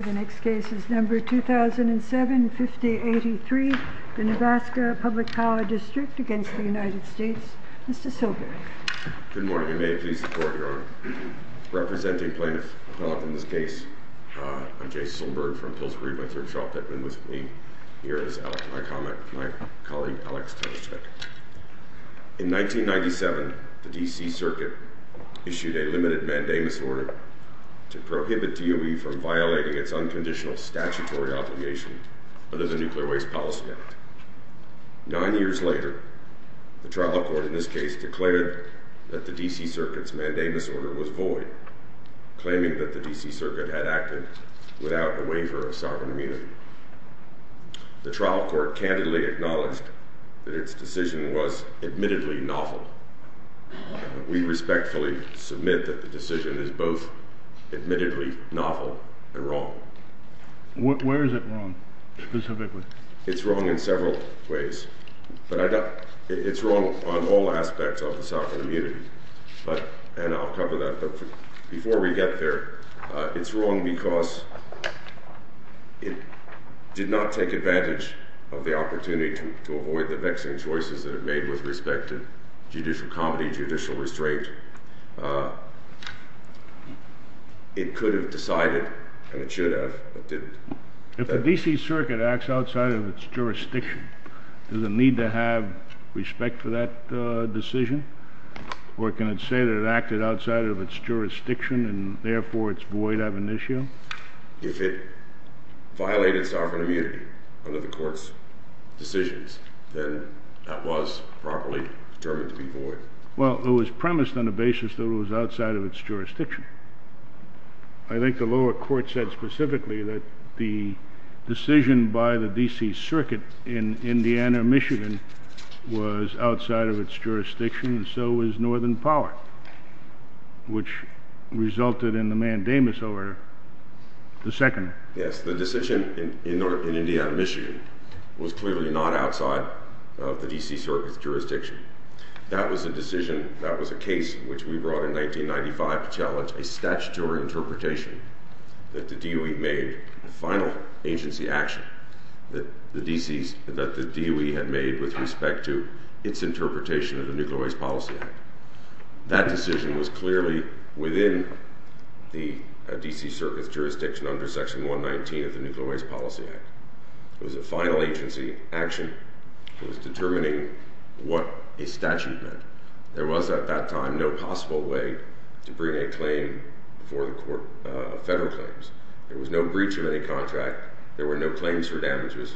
The next case is No. 2007-5083, the Nevaska Public Power District v. United States. Mr. Silberg. Good morning. I may please support your honor. Representing plaintiffs caught in this case, I'm Jay Silberg from Pillsbury, my third shop that's been with me. Here is my colleague, Alex Tereshek. In 1997, the D.C. Circuit issued a limited mandamus order to prohibit DOE from violating its unconditional statutory obligation under the Nuclear Waste Policy Act. Nine years later, the trial court in this case declared that the D.C. Circuit's mandamus order was void, claiming that the D.C. Circuit had acted without a waiver of sovereign immunity. The trial court candidly acknowledged that its decision was admittedly novel. We respectfully submit that the decision is both admittedly novel and wrong. Where is it wrong, specifically? It's wrong in several ways. It's wrong on all aspects of the sovereign immunity, and I'll cover that. But before we get there, it's wrong because it did not take advantage of the opportunity to avoid the vexing choices that it made with respect to judicial comedy, judicial restraint. It could have decided, and it should have, but didn't. If the D.C. Circuit acts outside of its jurisdiction, does it need to have respect for that decision? Or can it say that it acted outside of its jurisdiction, and therefore it's void ab initio? If it violated sovereign immunity under the court's decisions, then that was properly determined to be void. Well, it was premised on the basis that it was outside of its jurisdiction. I think the lower court said specifically that the decision by the D.C. Circuit in Indiana, Michigan, was outside of its jurisdiction, and so was Northern Power, which resulted in the mandamus order, the second. Yes, the decision in Indiana, Michigan, was clearly not outside of the D.C. Circuit's jurisdiction. That was a decision, that was a case, which we brought in 1995 to challenge a statutory interpretation that the DOE made, a final agency action that the D.C. – that the DOE had made with respect to its interpretation of the Nuclear Waste Policy Act. That decision was clearly within the D.C. Circuit's jurisdiction under Section 119 of the Nuclear Waste Policy Act. It was a final agency action. It was determining what a statute meant. There was, at that time, no possible way to bring a claim before the court of federal claims. There was no breach of any contract. There were no claims for damages.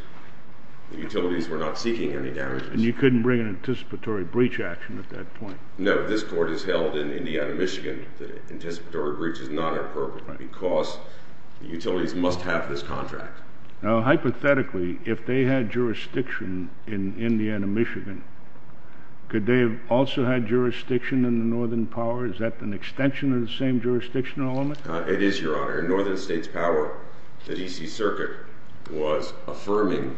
The utilities were not seeking any damages. And you couldn't bring an anticipatory breach action at that point? No. This court has held in Indiana, Michigan that anticipatory breach is not appropriate because the utilities must have this contract. Now, hypothetically, if they had jurisdiction in Indiana, Michigan, could they have also had jurisdiction in the northern power? Is that an extension of the same jurisdiction in all of it? It is, Your Honor. In northern states' power, the D.C. Circuit was affirming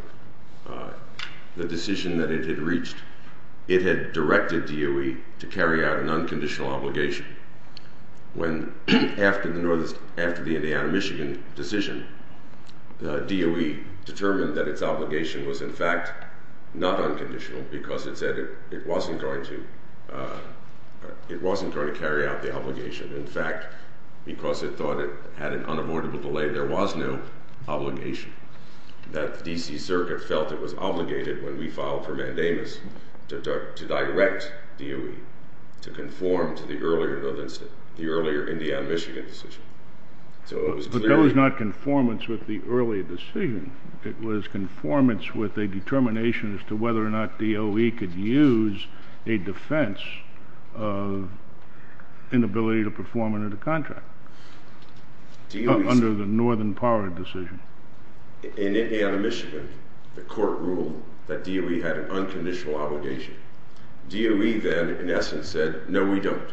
the decision that it had reached. It had directed DOE to carry out an unconditional obligation. After the Indiana, Michigan decision, DOE determined that its obligation was, in fact, not unconditional because it said it wasn't going to carry out the obligation. In fact, because it thought it had an unavoidable delay, there was no obligation. The D.C. Circuit felt it was obligated when we filed for mandamus to direct DOE to conform to the earlier Indiana, Michigan decision. But that was not conformance with the earlier decision. It was conformance with a determination as to whether or not DOE could use a defense of inability to perform under the contract, under the northern power decision. In Indiana, Michigan, the court ruled that DOE had an unconditional obligation. DOE then, in essence, said, no, we don't.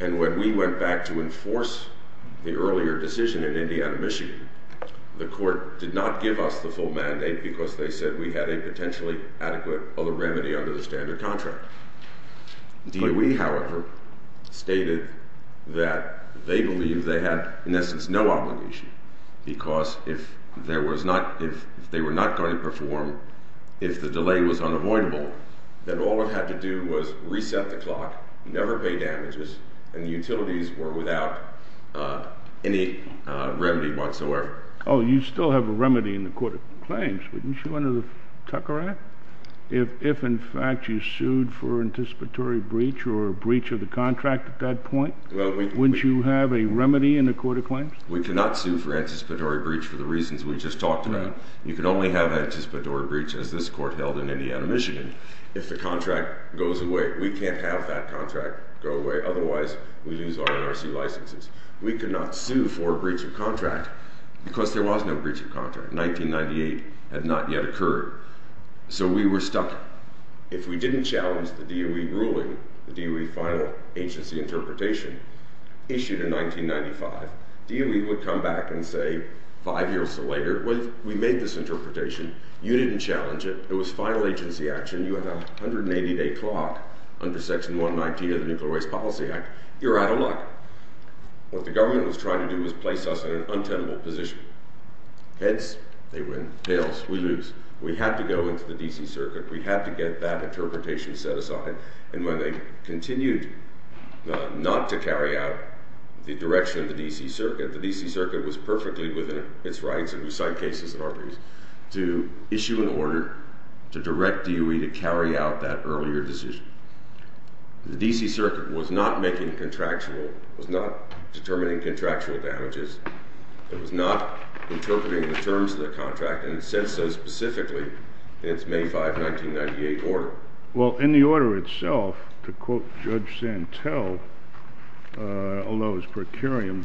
And when we went back to enforce the earlier decision in Indiana, Michigan, the court did not give us the full mandate because they said we had a potentially adequate other remedy under the standard contract. DOE, however, stated that they believed they had, in essence, no obligation because if they were not going to perform, if the delay was unavoidable, then all it had to do was reset the clock, never pay damages, and utilities were without any remedy whatsoever. Oh, you still have a remedy in the court of claims, wouldn't you, under the Tucker Act? If, in fact, you sued for anticipatory breach or a breach of the contract at that point, wouldn't you have a remedy in the court of claims? We cannot sue for anticipatory breach for the reasons we just talked about. You can only have anticipatory breach, as this court held in Indiana, Michigan, if the contract goes away. We can't have that contract go away. Otherwise, we lose our NRC licenses. We cannot sue for a breach of contract because there was no breach of contract. 1998 had not yet occurred. So we were stuck. If we didn't challenge the DOE ruling, the DOE final agency interpretation, issued in 1995, DOE would come back and say five years later, we made this interpretation, you didn't challenge it, it was final agency action, you have a 180-day clock under Section 119 of the Nuclear Waste Policy Act, you're out of luck. What the government was trying to do was place us in an untenable position. Heads, they win. Tails, we lose. We had to go into the D.C. Circuit. We had to get that interpretation set aside. And when they continued not to carry out the direction of the D.C. Circuit, the D.C. Circuit was perfectly within its rights, and we signed cases and armies, to issue an order to direct DOE to carry out that earlier decision. The D.C. Circuit was not making contractual, was not determining contractual damages. It was not interpreting the terms of the contract, and it says so specifically in its May 5, 1998, order. Well, in the order itself, to quote Judge Santel, although it was precarious,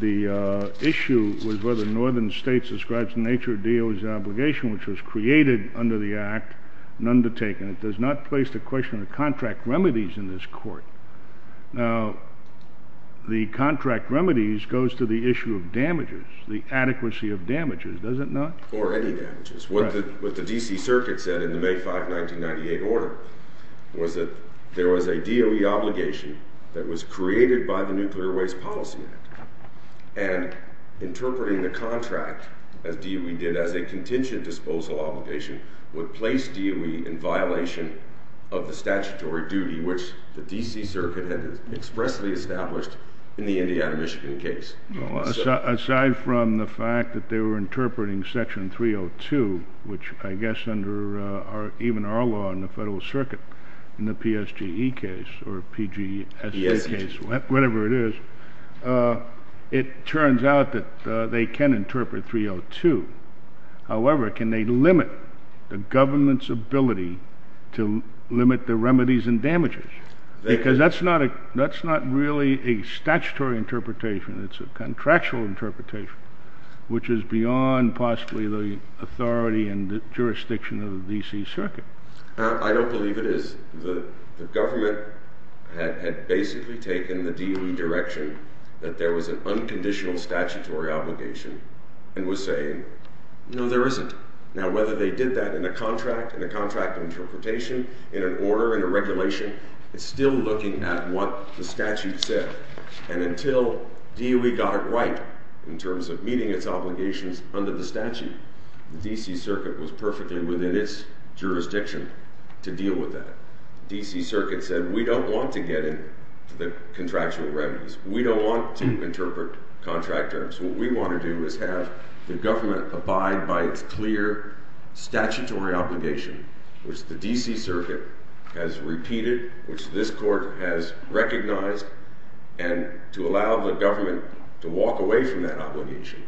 the issue was whether northern states ascribed to the nature of DOE's obligation, which was created under the Act and undertaken. It does not place the question of contract remedies in this court. Now, the contract remedies goes to the issue of damages, the adequacy of damages, does it not? Or any damages. What the D.C. Circuit said in the May 5, 1998, order was that there was a DOE obligation that was created by the Nuclear Waste Policy Act. And interpreting the contract, as DOE did, as a contingent disposal obligation, would place DOE in violation of the statutory duty, which the D.C. Circuit had expressly established in the Indiana, Michigan case. Well, aside from the fact that they were interpreting Section 302, which I guess under even our law in the Federal Circuit, in the PSGE case, or PGSE case, whatever it is, it turns out that they can interpret 302. However, can they limit the government's ability to limit the remedies and damages? Because that's not really a statutory interpretation. It's a contractual interpretation, which is beyond possibly the authority and the jurisdiction of the D.C. Circuit. I don't believe it is. The government had basically taken the DOE direction that there was an unconditional statutory obligation and was saying, no, there isn't. Now, whether they did that in a contract, in a contract interpretation, in an order, in a regulation, it's still looking at what the statute said. And until DOE got it right in terms of meeting its obligations under the statute, the D.C. Circuit was perfectly within its jurisdiction to deal with that. The D.C. Circuit said, we don't want to get into the contractual remedies. We don't want to interpret contract terms. What we want to do is have the government abide by its clear statutory obligation, which the D.C. Circuit has repeated, which this court has recognized, and to allow the government to walk away from that obligation,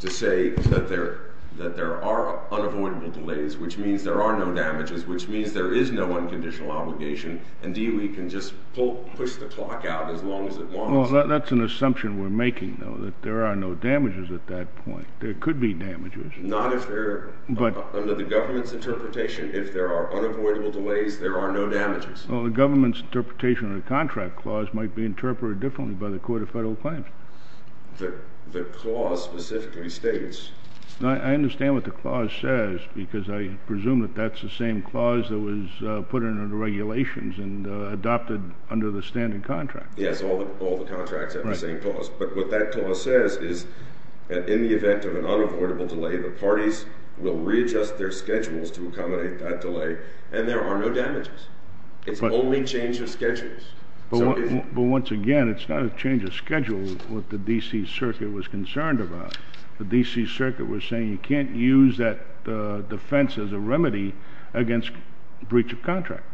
to say that there are unavoidable delays, which means there are no damages, which means there is no unconditional obligation, and DOE can just push the clock out as long as it wants. Well, that's an assumption we're making, though, that there are no damages at that point. There could be damages. Not if they're under the government's interpretation. If there are unavoidable delays, there are no damages. Well, the government's interpretation of the contract clause might be interpreted differently by the Court of Federal Claims. The clause specifically states— I understand what the clause says, because I presume that that's the same clause that was put in the regulations and adopted under the standard contract. Yes, all the contracts have the same clause. But what that clause says is that in the event of an unavoidable delay, the parties will readjust their schedules to accommodate that delay, and there are no damages. It's only change of schedules. But once again, it's not a change of schedules, what the D.C. Circuit was concerned about. The D.C. Circuit was saying you can't use that defense as a remedy against breach of contract.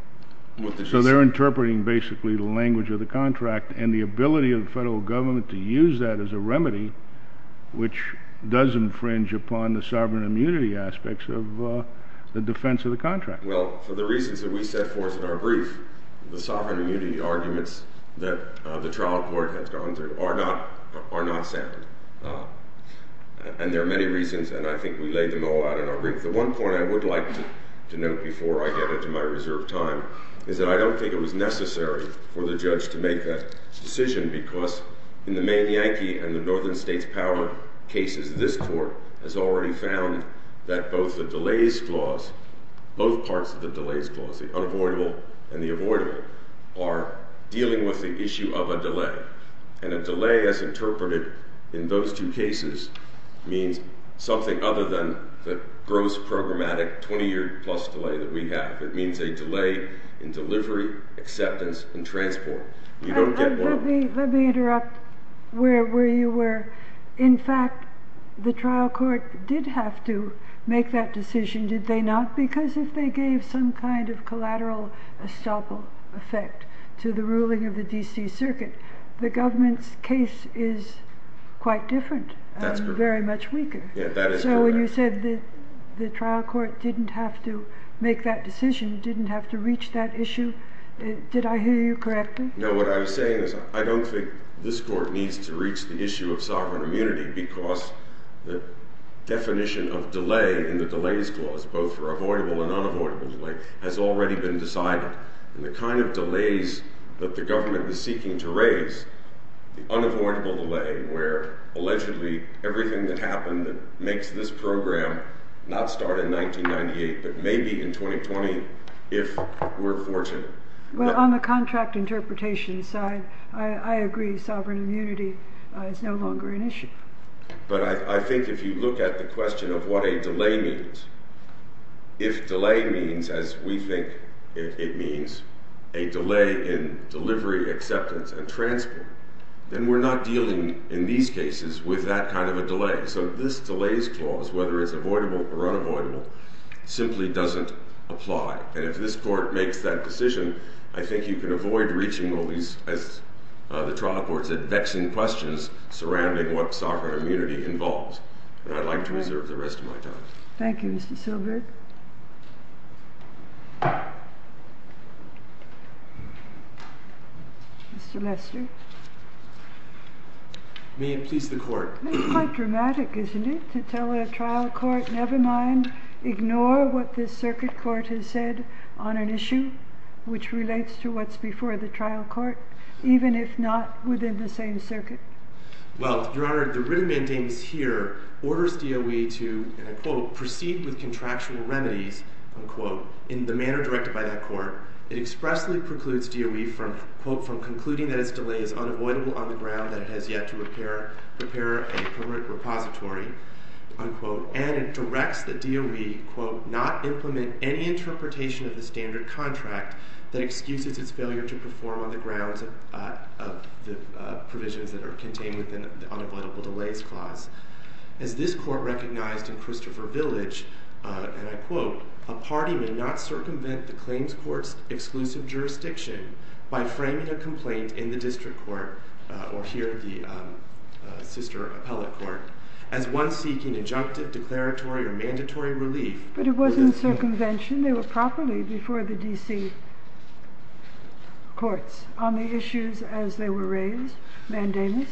So they're interpreting basically the language of the contract and the ability of the federal government to use that as a remedy, which does infringe upon the sovereign immunity aspects of the defense of the contract. Well, for the reasons that we set forth in our brief, the sovereign immunity arguments that the trial court has gone through are not sound. And there are many reasons, and I think we laid them all out in our brief. The one point I would like to note before I get into my reserved time is that I don't think it was necessary for the judge to make that decision, because in the main Yankee and the northern states power cases, this court has already found that both the delays clause, both parts of the delays clause, the unavoidable and the avoidable, are dealing with the issue of a delay. And a delay as interpreted in those two cases means something other than the gross programmatic 20-year-plus delay that we have. It means a delay in delivery, acceptance, and transport. Let me interrupt where you were. In fact, the trial court did have to make that decision, did they not? Because if they gave some kind of collateral estoppel effect to the ruling of the D.C. Circuit, the government's case is quite different. That's correct. And very much weaker. Yeah, that is correct. So when you said the trial court didn't have to make that decision, didn't have to reach that issue, did I hear you correctly? No, what I was saying is I don't think this court needs to reach the issue of sovereign immunity, because the definition of delay in the delays clause, both for avoidable and unavoidable delay, has already been decided. And the kind of delays that the government is seeking to raise, the unavoidable delay, where allegedly everything that happened that makes this program not start in 1998, but maybe in 2020, if we're fortunate. Well, on the contract interpretation side, I agree. Sovereign immunity is no longer an issue. But I think if you look at the question of what a delay means, if delay means, as we think it means, a delay in delivery, acceptance, and transport, then we're not dealing in these cases with that kind of a delay. So this delays clause, whether it's avoidable or unavoidable, simply doesn't apply. And if this court makes that decision, I think you can avoid reaching all these, as the trial court said, vexing questions surrounding what sovereign immunity involves. And I'd like to reserve the rest of my time. Thank you, Mr. Silbert. Mr. Lester. May it please the Court. It's quite dramatic, isn't it, to tell a trial court, never mind, ignore what this circuit court has said on an issue, which relates to what's before the trial court, even if not within the same circuit. Well, Your Honor, the written mandate is here, orders DOE to, and I quote, proceed with contractual remedies, unquote, in the manner directed by that court. It expressly precludes DOE from, quote, from concluding that its delay is unavoidable on the ground that it has yet to repair a current repository, unquote. And it directs the DOE, quote, not implement any interpretation of the standard contract that excuses its failure to perform on the grounds of the provisions that are contained within the unavoidable delays clause. As this court recognized in Christopher Village, and I quote, a party may not circumvent the claims court's exclusive jurisdiction by framing a complaint in the district court, or here the sister appellate court, as one seeking injunctive, declaratory, or mandatory relief. But it wasn't circumvention. They were properly before the D.C. courts on the issues as they were raised, mandamus,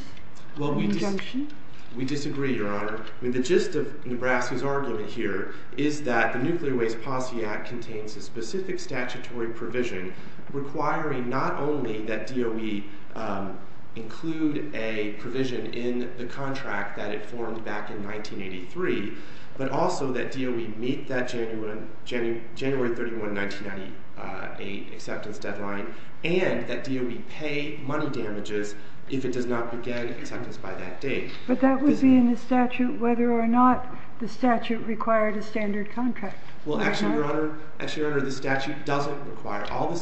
injunction. Well, we disagree, Your Honor. The gist of Nebraska's argument here is that the Nuclear Waste Posse Act contains a specific statutory provision requiring not only that DOE include a provision in the contract that it formed back in 1983, but also that DOE meet that January 31, 1998 acceptance deadline, and that DOE pay money damages if it does not begin acceptance by that date. But that would be in the statute whether or not the statute required a standard contract. Well, actually, Your Honor, the statute doesn't require all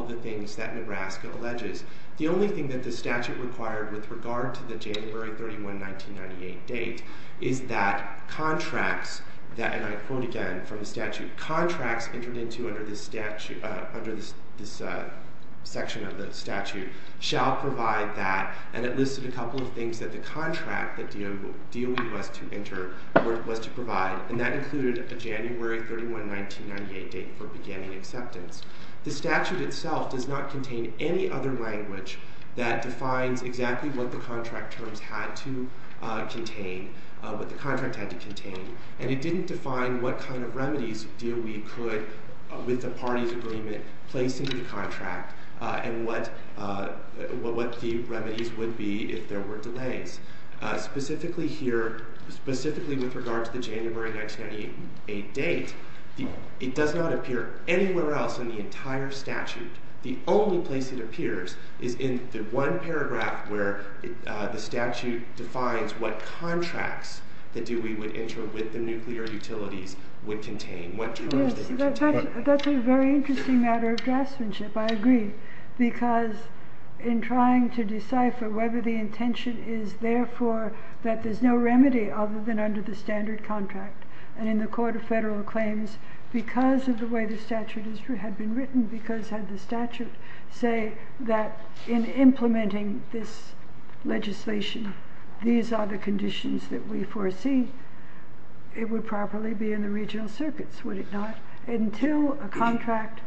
of the things that Nebraska alleges. The only thing that the statute required with regard to the January 31, 1998 date is that contracts that, and I quote again from the statute, contracts entered into under this section of the statute shall provide that, and it listed a couple of things that the contract that DOE was to provide, and that included a January 31, 1998 date for beginning acceptance. The statute itself does not contain any other language that defines exactly what the contract terms had to contain, what the contract had to contain, and it didn't define what kind of remedies DOE could, with the parties' agreement, place into the contract and what the remedies would be if there were delays. Specifically here, specifically with regard to the January 1998 date, it does not appear anywhere else in the entire statute. The only place it appears is in the one paragraph where the statute defines what contracts that DOE would enter with the nuclear utilities would contain, what terms they would contain. That's a very interesting matter of draftsmanship, I agree, because in trying to decipher whether the intention is, therefore, that there's no remedy other than under the standard contract, and in the Court of Federal Claims, because of the way the statute had been written, because had the statute say that in implementing this legislation, these are the conditions that we foresee, it would properly be in the regional circuits, would it not? Until a contract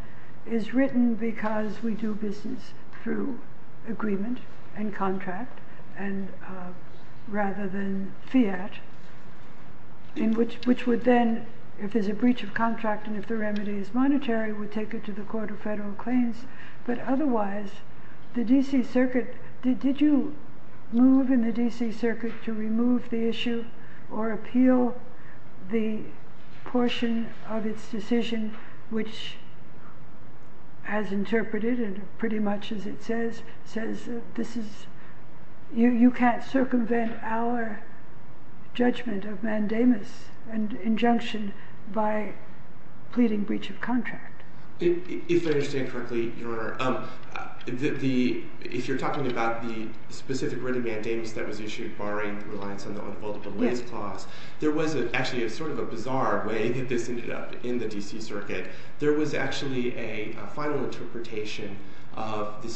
is written because we do business through agreement and contract, rather than fiat, which would then, if there's a breach of contract and if the remedy is monetary, would take it to the Court of Federal Claims, but otherwise, the D.C. Circuit, did you move in the D.C. Circuit to remove the issue or appeal the portion of its decision, which as interpreted and pretty much as it says, says you can't circumvent our judgment of mandamus and injunction by pleading breach of contract? If I understand correctly, Your Honor, if you're talking about the specific written mandamus that was issued barring reliance on the multiple delays clause, there was actually sort of a bizarre way that this ended up in the D.C. Circuit. There was actually a final interpretation of the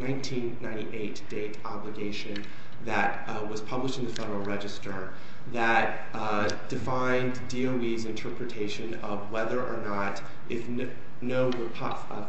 1998 date obligation that was published in the Federal Register that defined DOE's interpretation of whether or not if no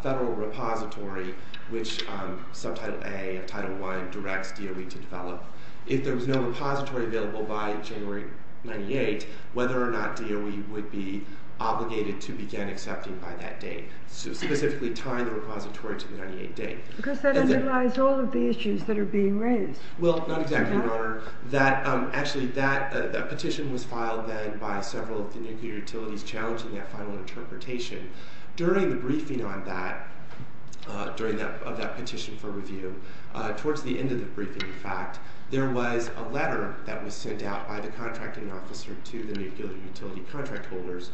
Federal repository, which Subtitle A of Title 1 directs DOE to develop, if there was no repository available by January 98, whether or not DOE would be obligated to begin accepting by that date, specifically tying the repository to the 98 date. Because that underlies all of the issues that are being raised. Well, not exactly, Your Honor. Actually, that petition was filed then by several of the nuclear utilities challenging that final interpretation. During the briefing on that, during that petition for review, towards the end of the briefing, in fact, there was a letter that was sent out by the contracting officer to the nuclear utility contract holders,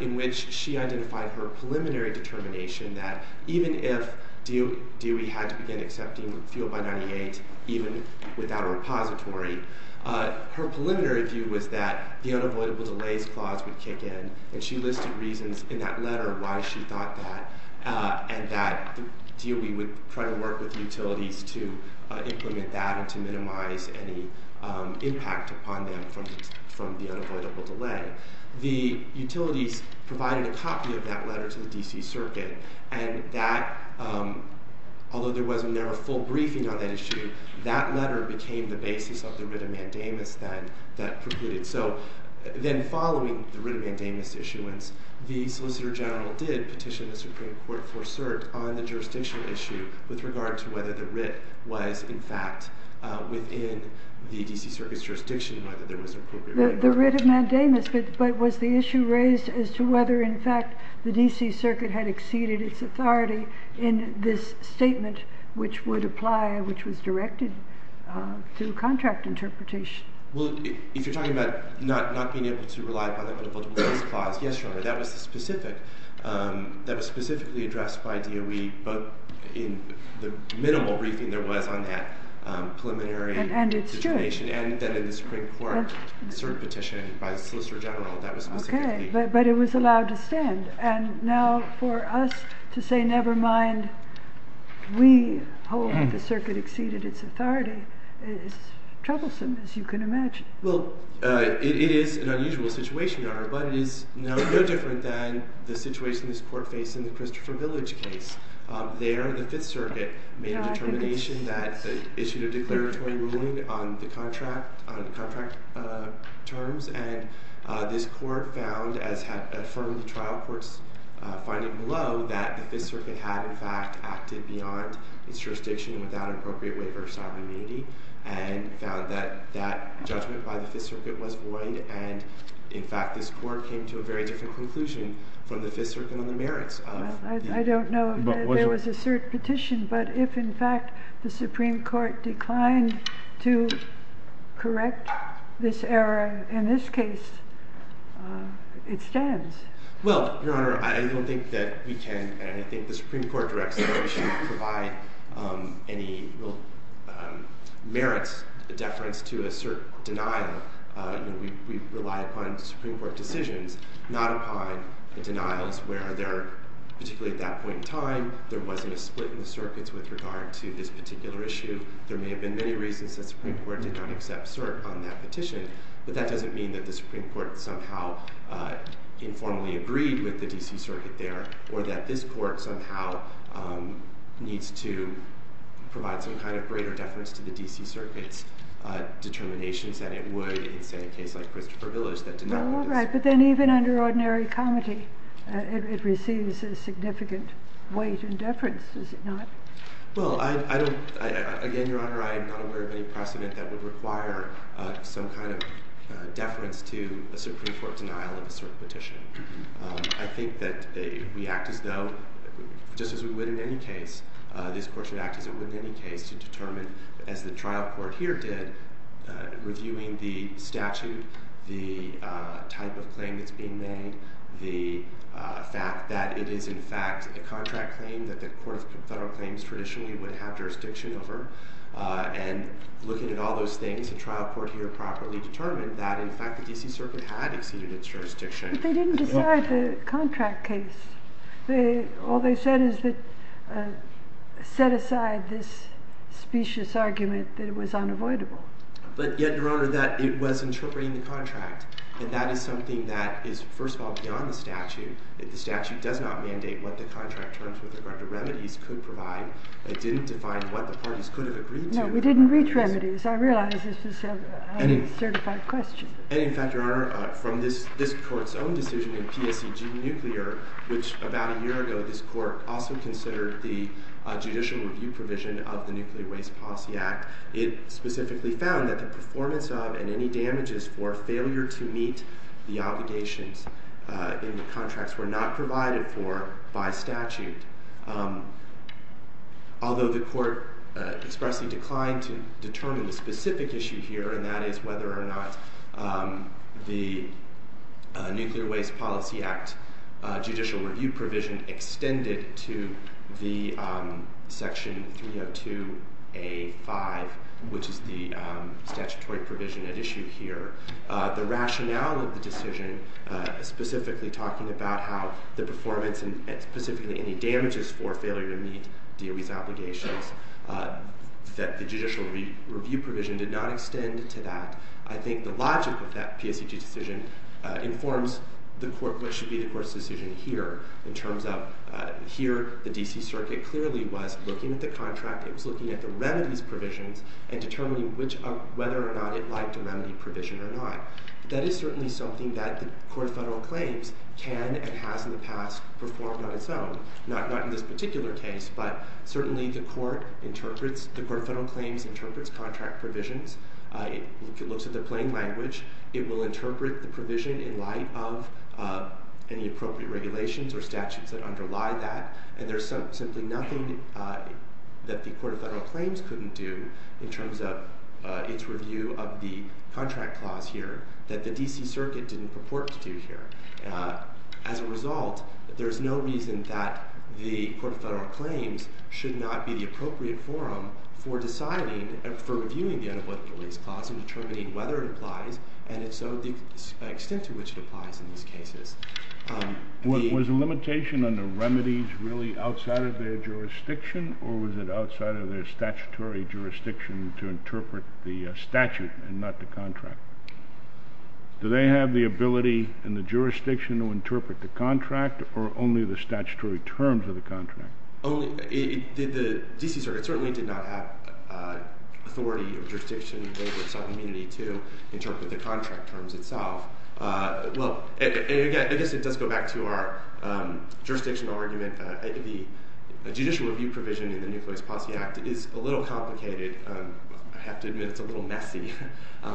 in which she identified her preliminary determination that even if DOE had to begin accepting fuel by 98, even without a repository, her preliminary view was that the unavoidable delays clause would kick in, and she listed reasons in that letter why she thought that, and that DOE would try to work with utilities to implement that and to minimize any impact upon them from the unavoidable delay. The utilities provided a copy of that letter to the D.C. Circuit, and that, although there was never a full briefing on that issue, that letter became the basis of the writ of mandamus that precluded. So then following the writ of mandamus issuance, the Solicitor General did petition the Supreme Court for cert on the jurisdictional issue with regard to whether the writ was, in fact, within the D.C. Circuit's jurisdiction, whether there was an appropriate writ of mandamus. The writ of mandamus, but was the issue raised as to whether, in fact, the D.C. Circuit had exceeded its authority in this statement, which would apply, which was directed to contract interpretation? Well, if you're talking about not being able to rely upon the unavoidable delays clause, yes, Your Honor, that was specific. That was specifically addressed by DOE both in the minimal briefing there was on that preliminary determination, and then in the Supreme Court cert petition by the Solicitor General. Okay, but it was allowed to stand. And now for us to say, never mind, we hold that the Circuit exceeded its authority is troublesome, as you can imagine. Well, it is an unusual situation, Your Honor, but it is no different than the situation this Court faced in the Christopher Village case. There, the Fifth Circuit made a determination that issued a declaratory ruling on the contract terms, and this Court found, as affirmed in the trial court's finding below, that the Fifth Circuit had, in fact, acted beyond its jurisdiction without an appropriate waiver of sovereign immunity, and found that that judgment by the Fifth Circuit was void, and, in fact, this Court came to a very different conclusion from the Fifth Circuit on the merits of the— I don't know if there was a cert petition, but if, in fact, the Supreme Court declined to correct this error in this case, it stands. Well, Your Honor, I don't think that we can, and I think the Supreme Court directs that we should provide any real merits deference to a cert denial. We rely upon Supreme Court decisions, not upon the denials where there, particularly at that point in time, there wasn't a split in the Circuits with regard to this particular issue. There may have been many reasons that the Supreme Court did not accept cert on that petition, but that doesn't mean that the Supreme Court somehow informally agreed with the D.C. Circuit there, or that this Court somehow needs to provide some kind of greater deference to the D.C. Circuit's determinations that it would in, say, a case like Christopher Village that did not— All right, but then even under ordinary comity, it receives a significant weight in deference, does it not? Well, I don't—again, Your Honor, I am not aware of any precedent that would require some kind of deference to a Supreme Court denial of a cert petition. I think that we act as though, just as we would in any case, this Court should act as it would in any case to determine, as the trial court here did, reviewing the statute, the type of claim that's being made, the fact that it is, in fact, a contract claim that the Court of Federal Claims traditionally would have jurisdiction over, and looking at all those things, the trial court here properly determined that, in fact, the D.C. Circuit had exceeded its jurisdiction. But they didn't decide the contract case. All they said is that—set aside this specious argument that it was unavoidable. But yet, Your Honor, that it was interpreting the contract, and that is something that is, first of all, beyond the statute. The statute does not mandate what the contract terms with regard to remedies could provide. It didn't define what the parties could have agreed to. No, we didn't reach remedies. I realize this is a highly certified question. And, in fact, Your Honor, from this Court's own decision in P.S.C.G. Nuclear, which, about a year ago, this Court also considered the judicial review provision of the Nuclear Waste Policy Act, it specifically found that the performance of and any damages for failure to meet the obligations in the contracts were not provided for by statute, although the Court expressly declined to determine the specific issue here, and that is whether or not the Nuclear Waste Policy Act judicial review provision extended to the Section 302A.5, which is the statutory provision at issue here. The rationale of the decision, specifically talking about how the performance, and specifically any damages for failure to meet DOE's obligations, that the judicial review provision did not extend to that, I think the logic of that P.S.C.G. decision informs what should be the Court's decision here. In terms of, here, the D.C. Circuit clearly was looking at the contract, it was looking at the remedies provisions, and determining whether or not it liked a remedy provision or not. That is certainly something that the Court of Federal Claims can and has in the past performed on its own. Not in this particular case, but certainly the Court interprets, the Court of Federal Claims interprets contract provisions. It looks at the plain language. It will interpret the provision in light of any appropriate regulations or statutes that underlie that, and there's simply nothing that the Court of Federal Claims couldn't do in terms of its review of the contract clause here that the D.C. Circuit didn't purport to do here. As a result, there's no reason that the Court of Federal Claims should not be the appropriate forum for deciding, for reviewing the Unemployment Release Clause and determining whether it applies, and so the extent to which it applies in these cases. Was the limitation on the remedies really outside of their jurisdiction, or was it outside of their statutory jurisdiction to interpret the statute and not the contract? Do they have the ability in the jurisdiction to interpret the contract, or only the statutory terms of the contract? The D.C. Circuit certainly did not have authority or jurisdiction in the labor of self-immunity to interpret the contract terms itself. Well, again, I guess it does go back to our jurisdictional argument. The judicial review provision in the Nucleus Posse Act is a little complicated. I have to admit it's a little messy,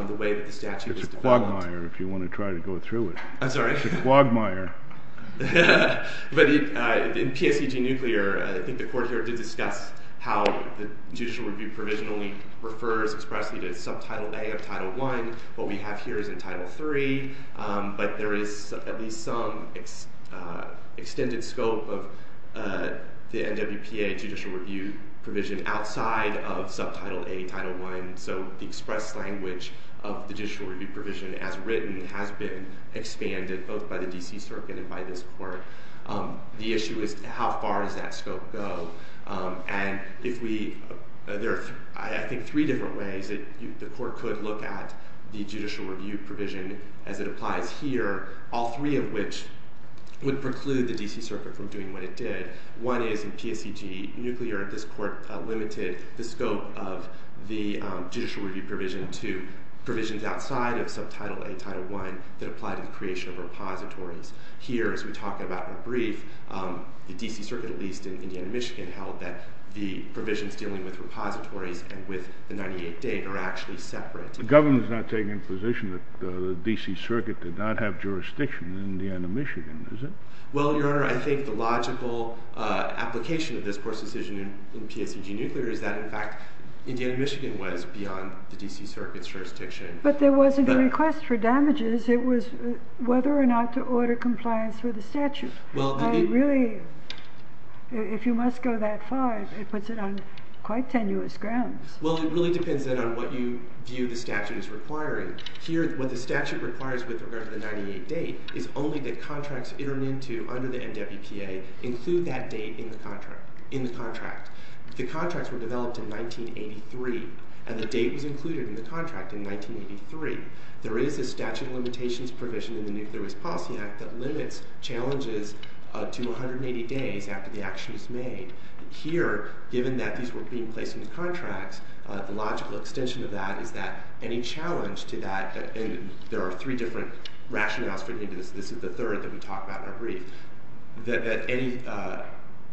the way that the statute is developed. It's a quagmire if you want to try to go through it. I'm sorry? It's a quagmire. But in PSEG Nuclear, I think the Court here did discuss how the judicial review provision only refers expressly to Subtitle A of Title I. What we have here is in Title III. But there is at least some extended scope of the NWPA judicial review provision outside of Subtitle A, Title I. So the express language of the judicial review provision as written has been expanded both by the D.C. Circuit and by this Court. The issue is how far does that scope go? And there are, I think, three different ways that the Court could look at the judicial review provision as it applies here, all three of which would preclude the D.C. Circuit from doing what it did. One is, in PSEG Nuclear, this Court limited the scope of the judicial review provision to provisions outside of Subtitle A, Title I that apply to the creation of repositories. Here, as we talk about in the brief, the D.C. Circuit, at least in Indiana, Michigan, held that the provisions dealing with repositories and with the 98-date are actually separate. The government is not taking the position that the D.C. Circuit did not have jurisdiction in Indiana, Michigan, is it? Well, Your Honor, I think the logical application of this Court's decision in PSEG Nuclear is that, in fact, Indiana, Michigan was beyond the D.C. Circuit's jurisdiction. But there wasn't a request for damages. It was whether or not to order compliance with the statute. And really, if you must go that far, it puts it on quite tenuous grounds. Well, it really depends then on what you view the statute as requiring. Here, what the statute requires with regard to the 98-date is only that contracts entered into under the NWPA include that date in the contract. The contracts were developed in 1983, and the date was included in the contract in 1983. There is a statute of limitations provision in the Nuclear Waste Policy Act that limits challenges to 180 days after the action is made. Here, given that these were being placed in the contracts, the logical extension of that is that any challenge to that, and there are three different rationales for doing this. This is the third that we talk about in our brief, that any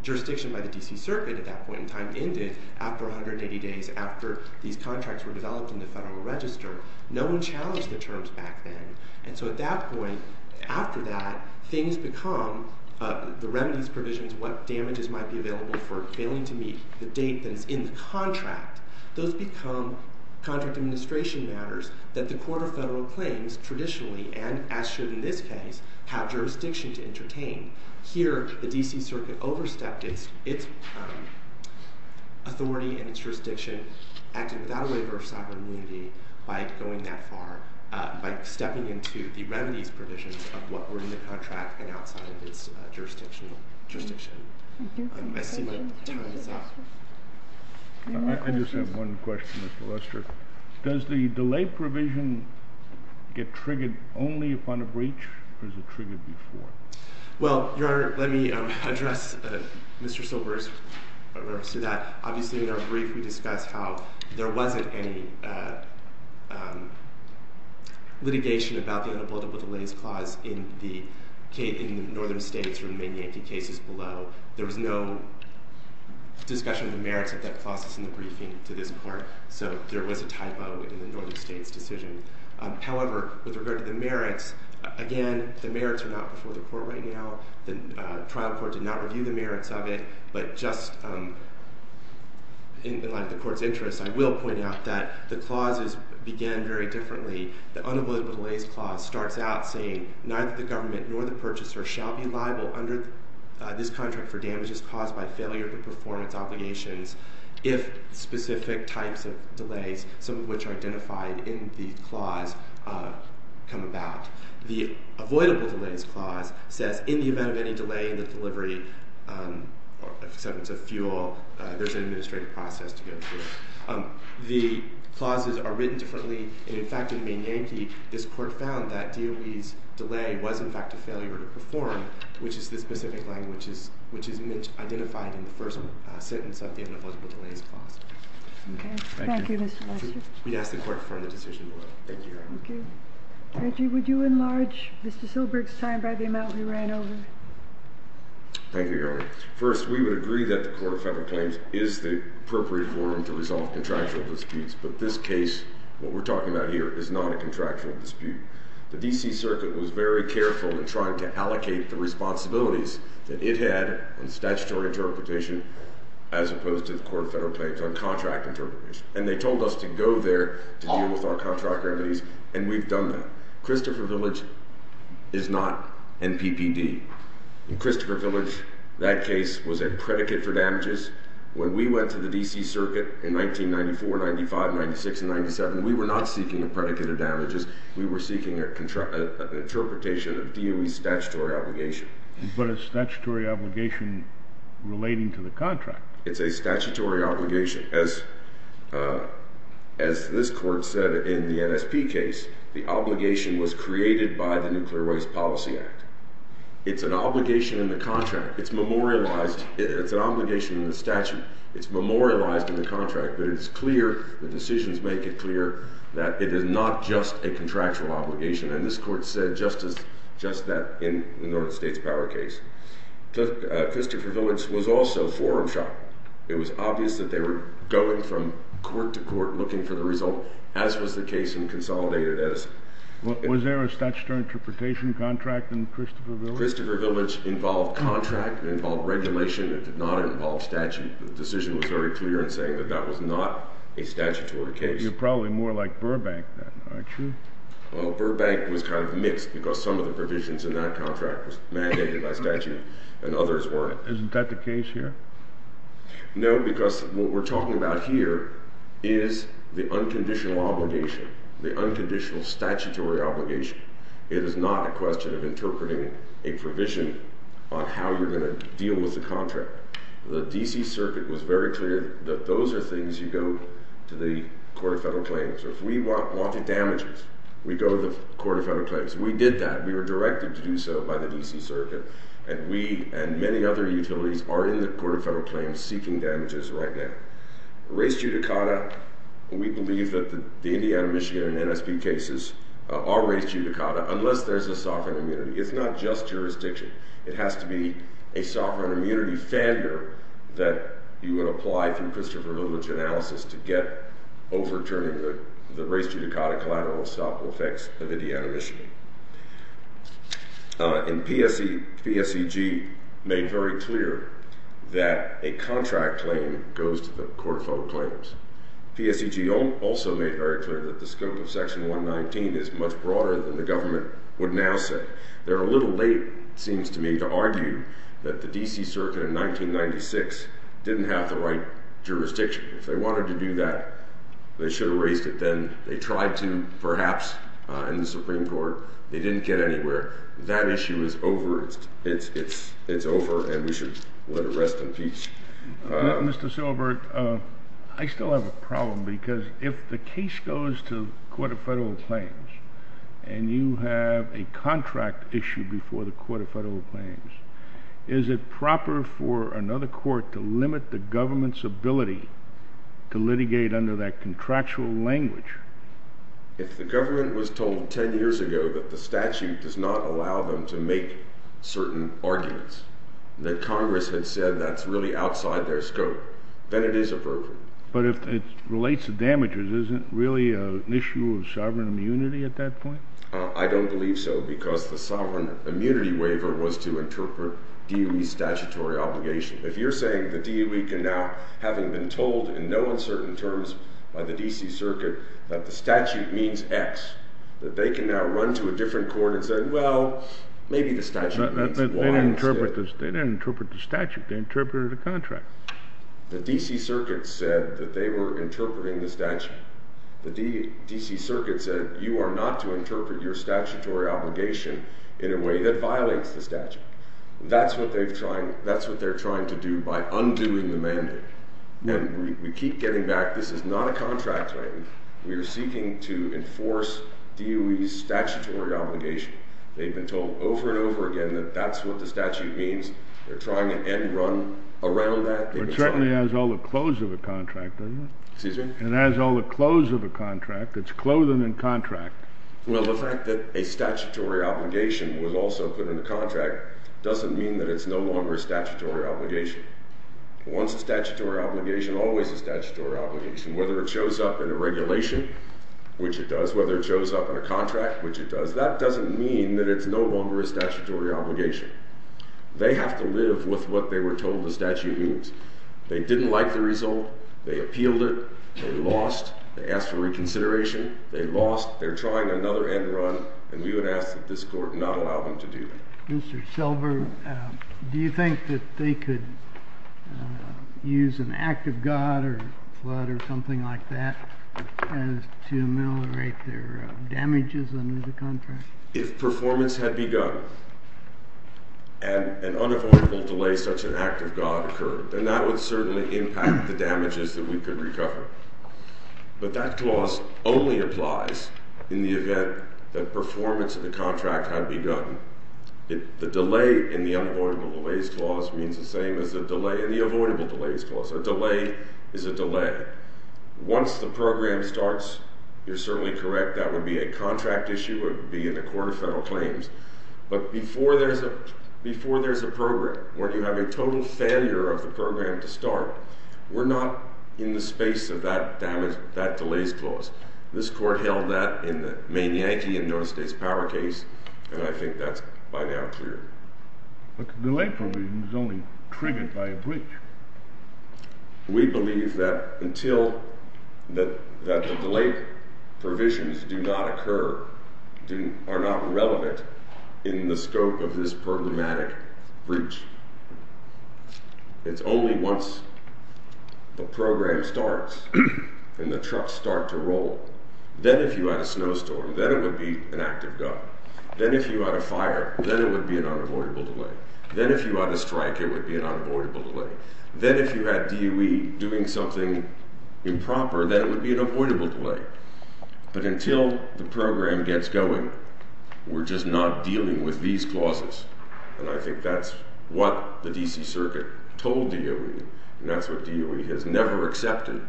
jurisdiction by the D.C. Circuit at that point in time ended after 180 days after these contracts were developed in the Federal Register. No one challenged the terms back then. And so at that point, after that, things become the remedies provisions, what damages might be available for failing to meet the date that is in the contract. Those become contract administration matters that the Court of Federal Claims traditionally, and as should in this case, have jurisdiction to entertain. Here, the D.C. Circuit overstepped its authority and its jurisdiction, acted without a waiver of sovereign immunity by going that far, by stepping into the remedies provisions of what were in the contract and outside of its jurisdiction. I see that time is up. I just have one question, Mr. Lester. Does the delay provision get triggered only upon a breach, or is it triggered before? Well, Your Honor, let me address Mr. Silber's remarks to that. Obviously, in our brief, we discussed how there wasn't any litigation about the unavoidable delays clause in the Northern states or in many Yankee cases below. There was no discussion of the merits of that clause that's in the briefing to this Court. So there was a typo in the Northern states' decision. However, with regard to the merits, again, the merits are not before the Court right now. The trial court did not review the merits of it. But just in the line of the Court's interest, I will point out that the clauses began very differently. The unavoidable delays clause starts out saying, neither the government nor the purchaser shall be liable under this contract for damages caused by failure to perform its obligations if specific types of delays, some of which are identified in the clause, come about. The avoidable delays clause says, in the event of any delay in the delivery of a substance of fuel, there's an administrative process to go through. The clauses are written differently. And in fact, in Maine Yankee, this Court found that DOE's delay was in fact a failure to perform, which is this specific line, which is identified in the first sentence of the unavoidable delays clause. Okay. Thank you, Mr. Lester. We'd ask the Court to confirm the decision below. Thank you, Your Honor. Reggie, would you enlarge Mr. Silberg's time by the amount we ran over? Thank you, Your Honor. First, we would agree that the Court of Federal Claims is the appropriate forum to resolve contractual disputes. But this case, what we're talking about here, is not a contractual dispute. The D.C. Circuit was very careful in trying to allocate the responsibilities that it had in statutory interpretation as opposed to the Court of Federal Claims on contract interpretation. And they told us to go there to deal with our contract remedies, and we've done that. Christopher Village is not NPPD. In Christopher Village, that case was a predicate for damages. When we went to the D.C. Circuit in 1994, 1995, 1996, and 1997, we were not seeking a predicate of damages. We were seeking an interpretation of DOE's statutory obligation. But a statutory obligation relating to the contract. It's a statutory obligation. As this Court said in the NSP case, the obligation was created by the Nuclear Waste Policy Act. It's an obligation in the contract. It's memorialized. It's an obligation in the statute. It's memorialized in the contract. But it's clear, the decisions make it clear, that it is not just a contractual obligation. And this Court said just that in the Northern States Power case. Christopher Village was also forum shot. It was obvious that they were going from court to court looking for the result, as was the case in Consolidated Edison. Was there a statutory interpretation contract in Christopher Village? Christopher Village involved contract. It involved regulation. It did not involve statute. The decision was very clear in saying that that was not a statutory case. You're probably more like Burbank then, aren't you? Burbank was kind of mixed, because some of the provisions in that contract was mandated by statute, and others weren't. Isn't that the case here? No, because what we're talking about here is the unconditional obligation. The unconditional statutory obligation. It is not a question of interpreting a provision on how you're going to deal with the contract. The D.C. Circuit was very clear that those are things you go to the Court of Federal Claims. If we wanted damages, we go to the Court of Federal Claims. We did that. We were directed to do so by the D.C. Circuit. And we and many other utilities are in the Court of Federal Claims seeking damages right now. Race judicata. We believe that the Indiana, Michigan, and NSP cases are race judicata, unless there's a sovereign immunity. It's not just jurisdiction. It has to be a sovereign immunity factor that you would apply through Christopher Village analysis to get overturned, the race judicata collateral stop effects of Indiana, Michigan. And PSEG made very clear that a contract claim goes to the Court of Federal Claims. PSEG also made very clear that the scope of Section 119 is much broader than the government would now say. They're a little late, it seems to me, to argue that the D.C. Circuit in 1996 didn't have the right jurisdiction. If they wanted to do that, they should have raised it then. They tried to, perhaps, in the Supreme Court. They didn't get anywhere. That issue is over. It's over, and we should let it rest in peace. Mr. Silbert, I still have a problem because if the case goes to the Court of Federal Claims and you have a contract issue before the Court of Federal Claims, is it proper for another court to limit the government's ability to litigate under that contractual language? If the government was told 10 years ago that the statute does not allow them to make certain arguments, that Congress had said that's really outside their scope, then it is appropriate. But if it relates to damages, isn't it really an issue of sovereign immunity at that point? I don't believe so because the sovereign immunity waiver was to interpret D.U.E.'s statutory obligation. If you're saying that D.U.E. can now, having been told in no uncertain terms by the D.C. Circuit that the statute means X, that they can now run to a different court and say, well, maybe the statute means Y. They didn't interpret the statute. They interpreted a contract. The D.C. Circuit said that they were interpreting the statute. The D.C. Circuit said you are not to interpret your statutory obligation in a way that violates the statute. That's what they're trying to do by undoing the mandate. And we keep getting back, this is not a contract claim. We are seeking to enforce D.U.E.'s statutory obligation. They've been told over and over again that that's what the statute means. They're trying to end run around that. It certainly has all the clothes of a contract, doesn't it? Excuse me? It has all the clothes of a contract. It's clothing and contract. Well, the fact that a statutory obligation was also put in the contract doesn't mean that it's no longer a statutory obligation. Once a statutory obligation, always a statutory obligation, whether it shows up in a regulation, which it does, whether it shows up in a contract, which it does, that doesn't mean that it's no longer a statutory obligation. They have to live with what they were told the statute means. They didn't like the result. They appealed it. They lost. They asked for reconsideration. They lost. They're trying another end run. And we would ask that this court not allow them to do that. Mr. Silver, do you think that they could use an act of God or flood or something like that to ameliorate their damages under the contract? If performance had begun and an unavoidable delay such an act of God occurred, then that would certainly impact the damages that we could recover. But that clause only applies in the event that performance of the contract had begun. The delay in the unavoidable delays clause means the same as the delay in the avoidable delays clause. A delay is a delay. Once the program starts, you're certainly correct, that would be a contract issue. It would be in the Court of Federal Claims. But before there's a program where you have a total failure of the program to start, we're not in the space of that delays clause. This court held that in the main Yankee and those days power case, and I think that's by now clear. But the delay provision is only triggered by a breach. We believe that until – that the delay provisions do not occur, are not relevant in the scope of this programmatic breach. It's only once the program starts and the trucks start to roll. Then if you had a snowstorm, then it would be an act of God. Then if you had a fire, then it would be an unavoidable delay. Then if you had a strike, it would be an unavoidable delay. Then if you had DOE doing something improper, then it would be an avoidable delay. But until the program gets going, we're just not dealing with these clauses. And I think that's what the D.C. Circuit told DOE, and that's what DOE has never accepted.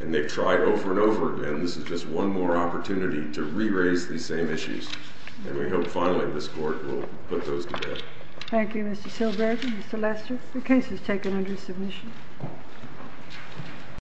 And they've tried over and over again. And this is just one more opportunity to re-raise these same issues. And we hope finally this court will put those together. Thank you, Mr. Silberg. Mr. Lester, the case is taken under submission.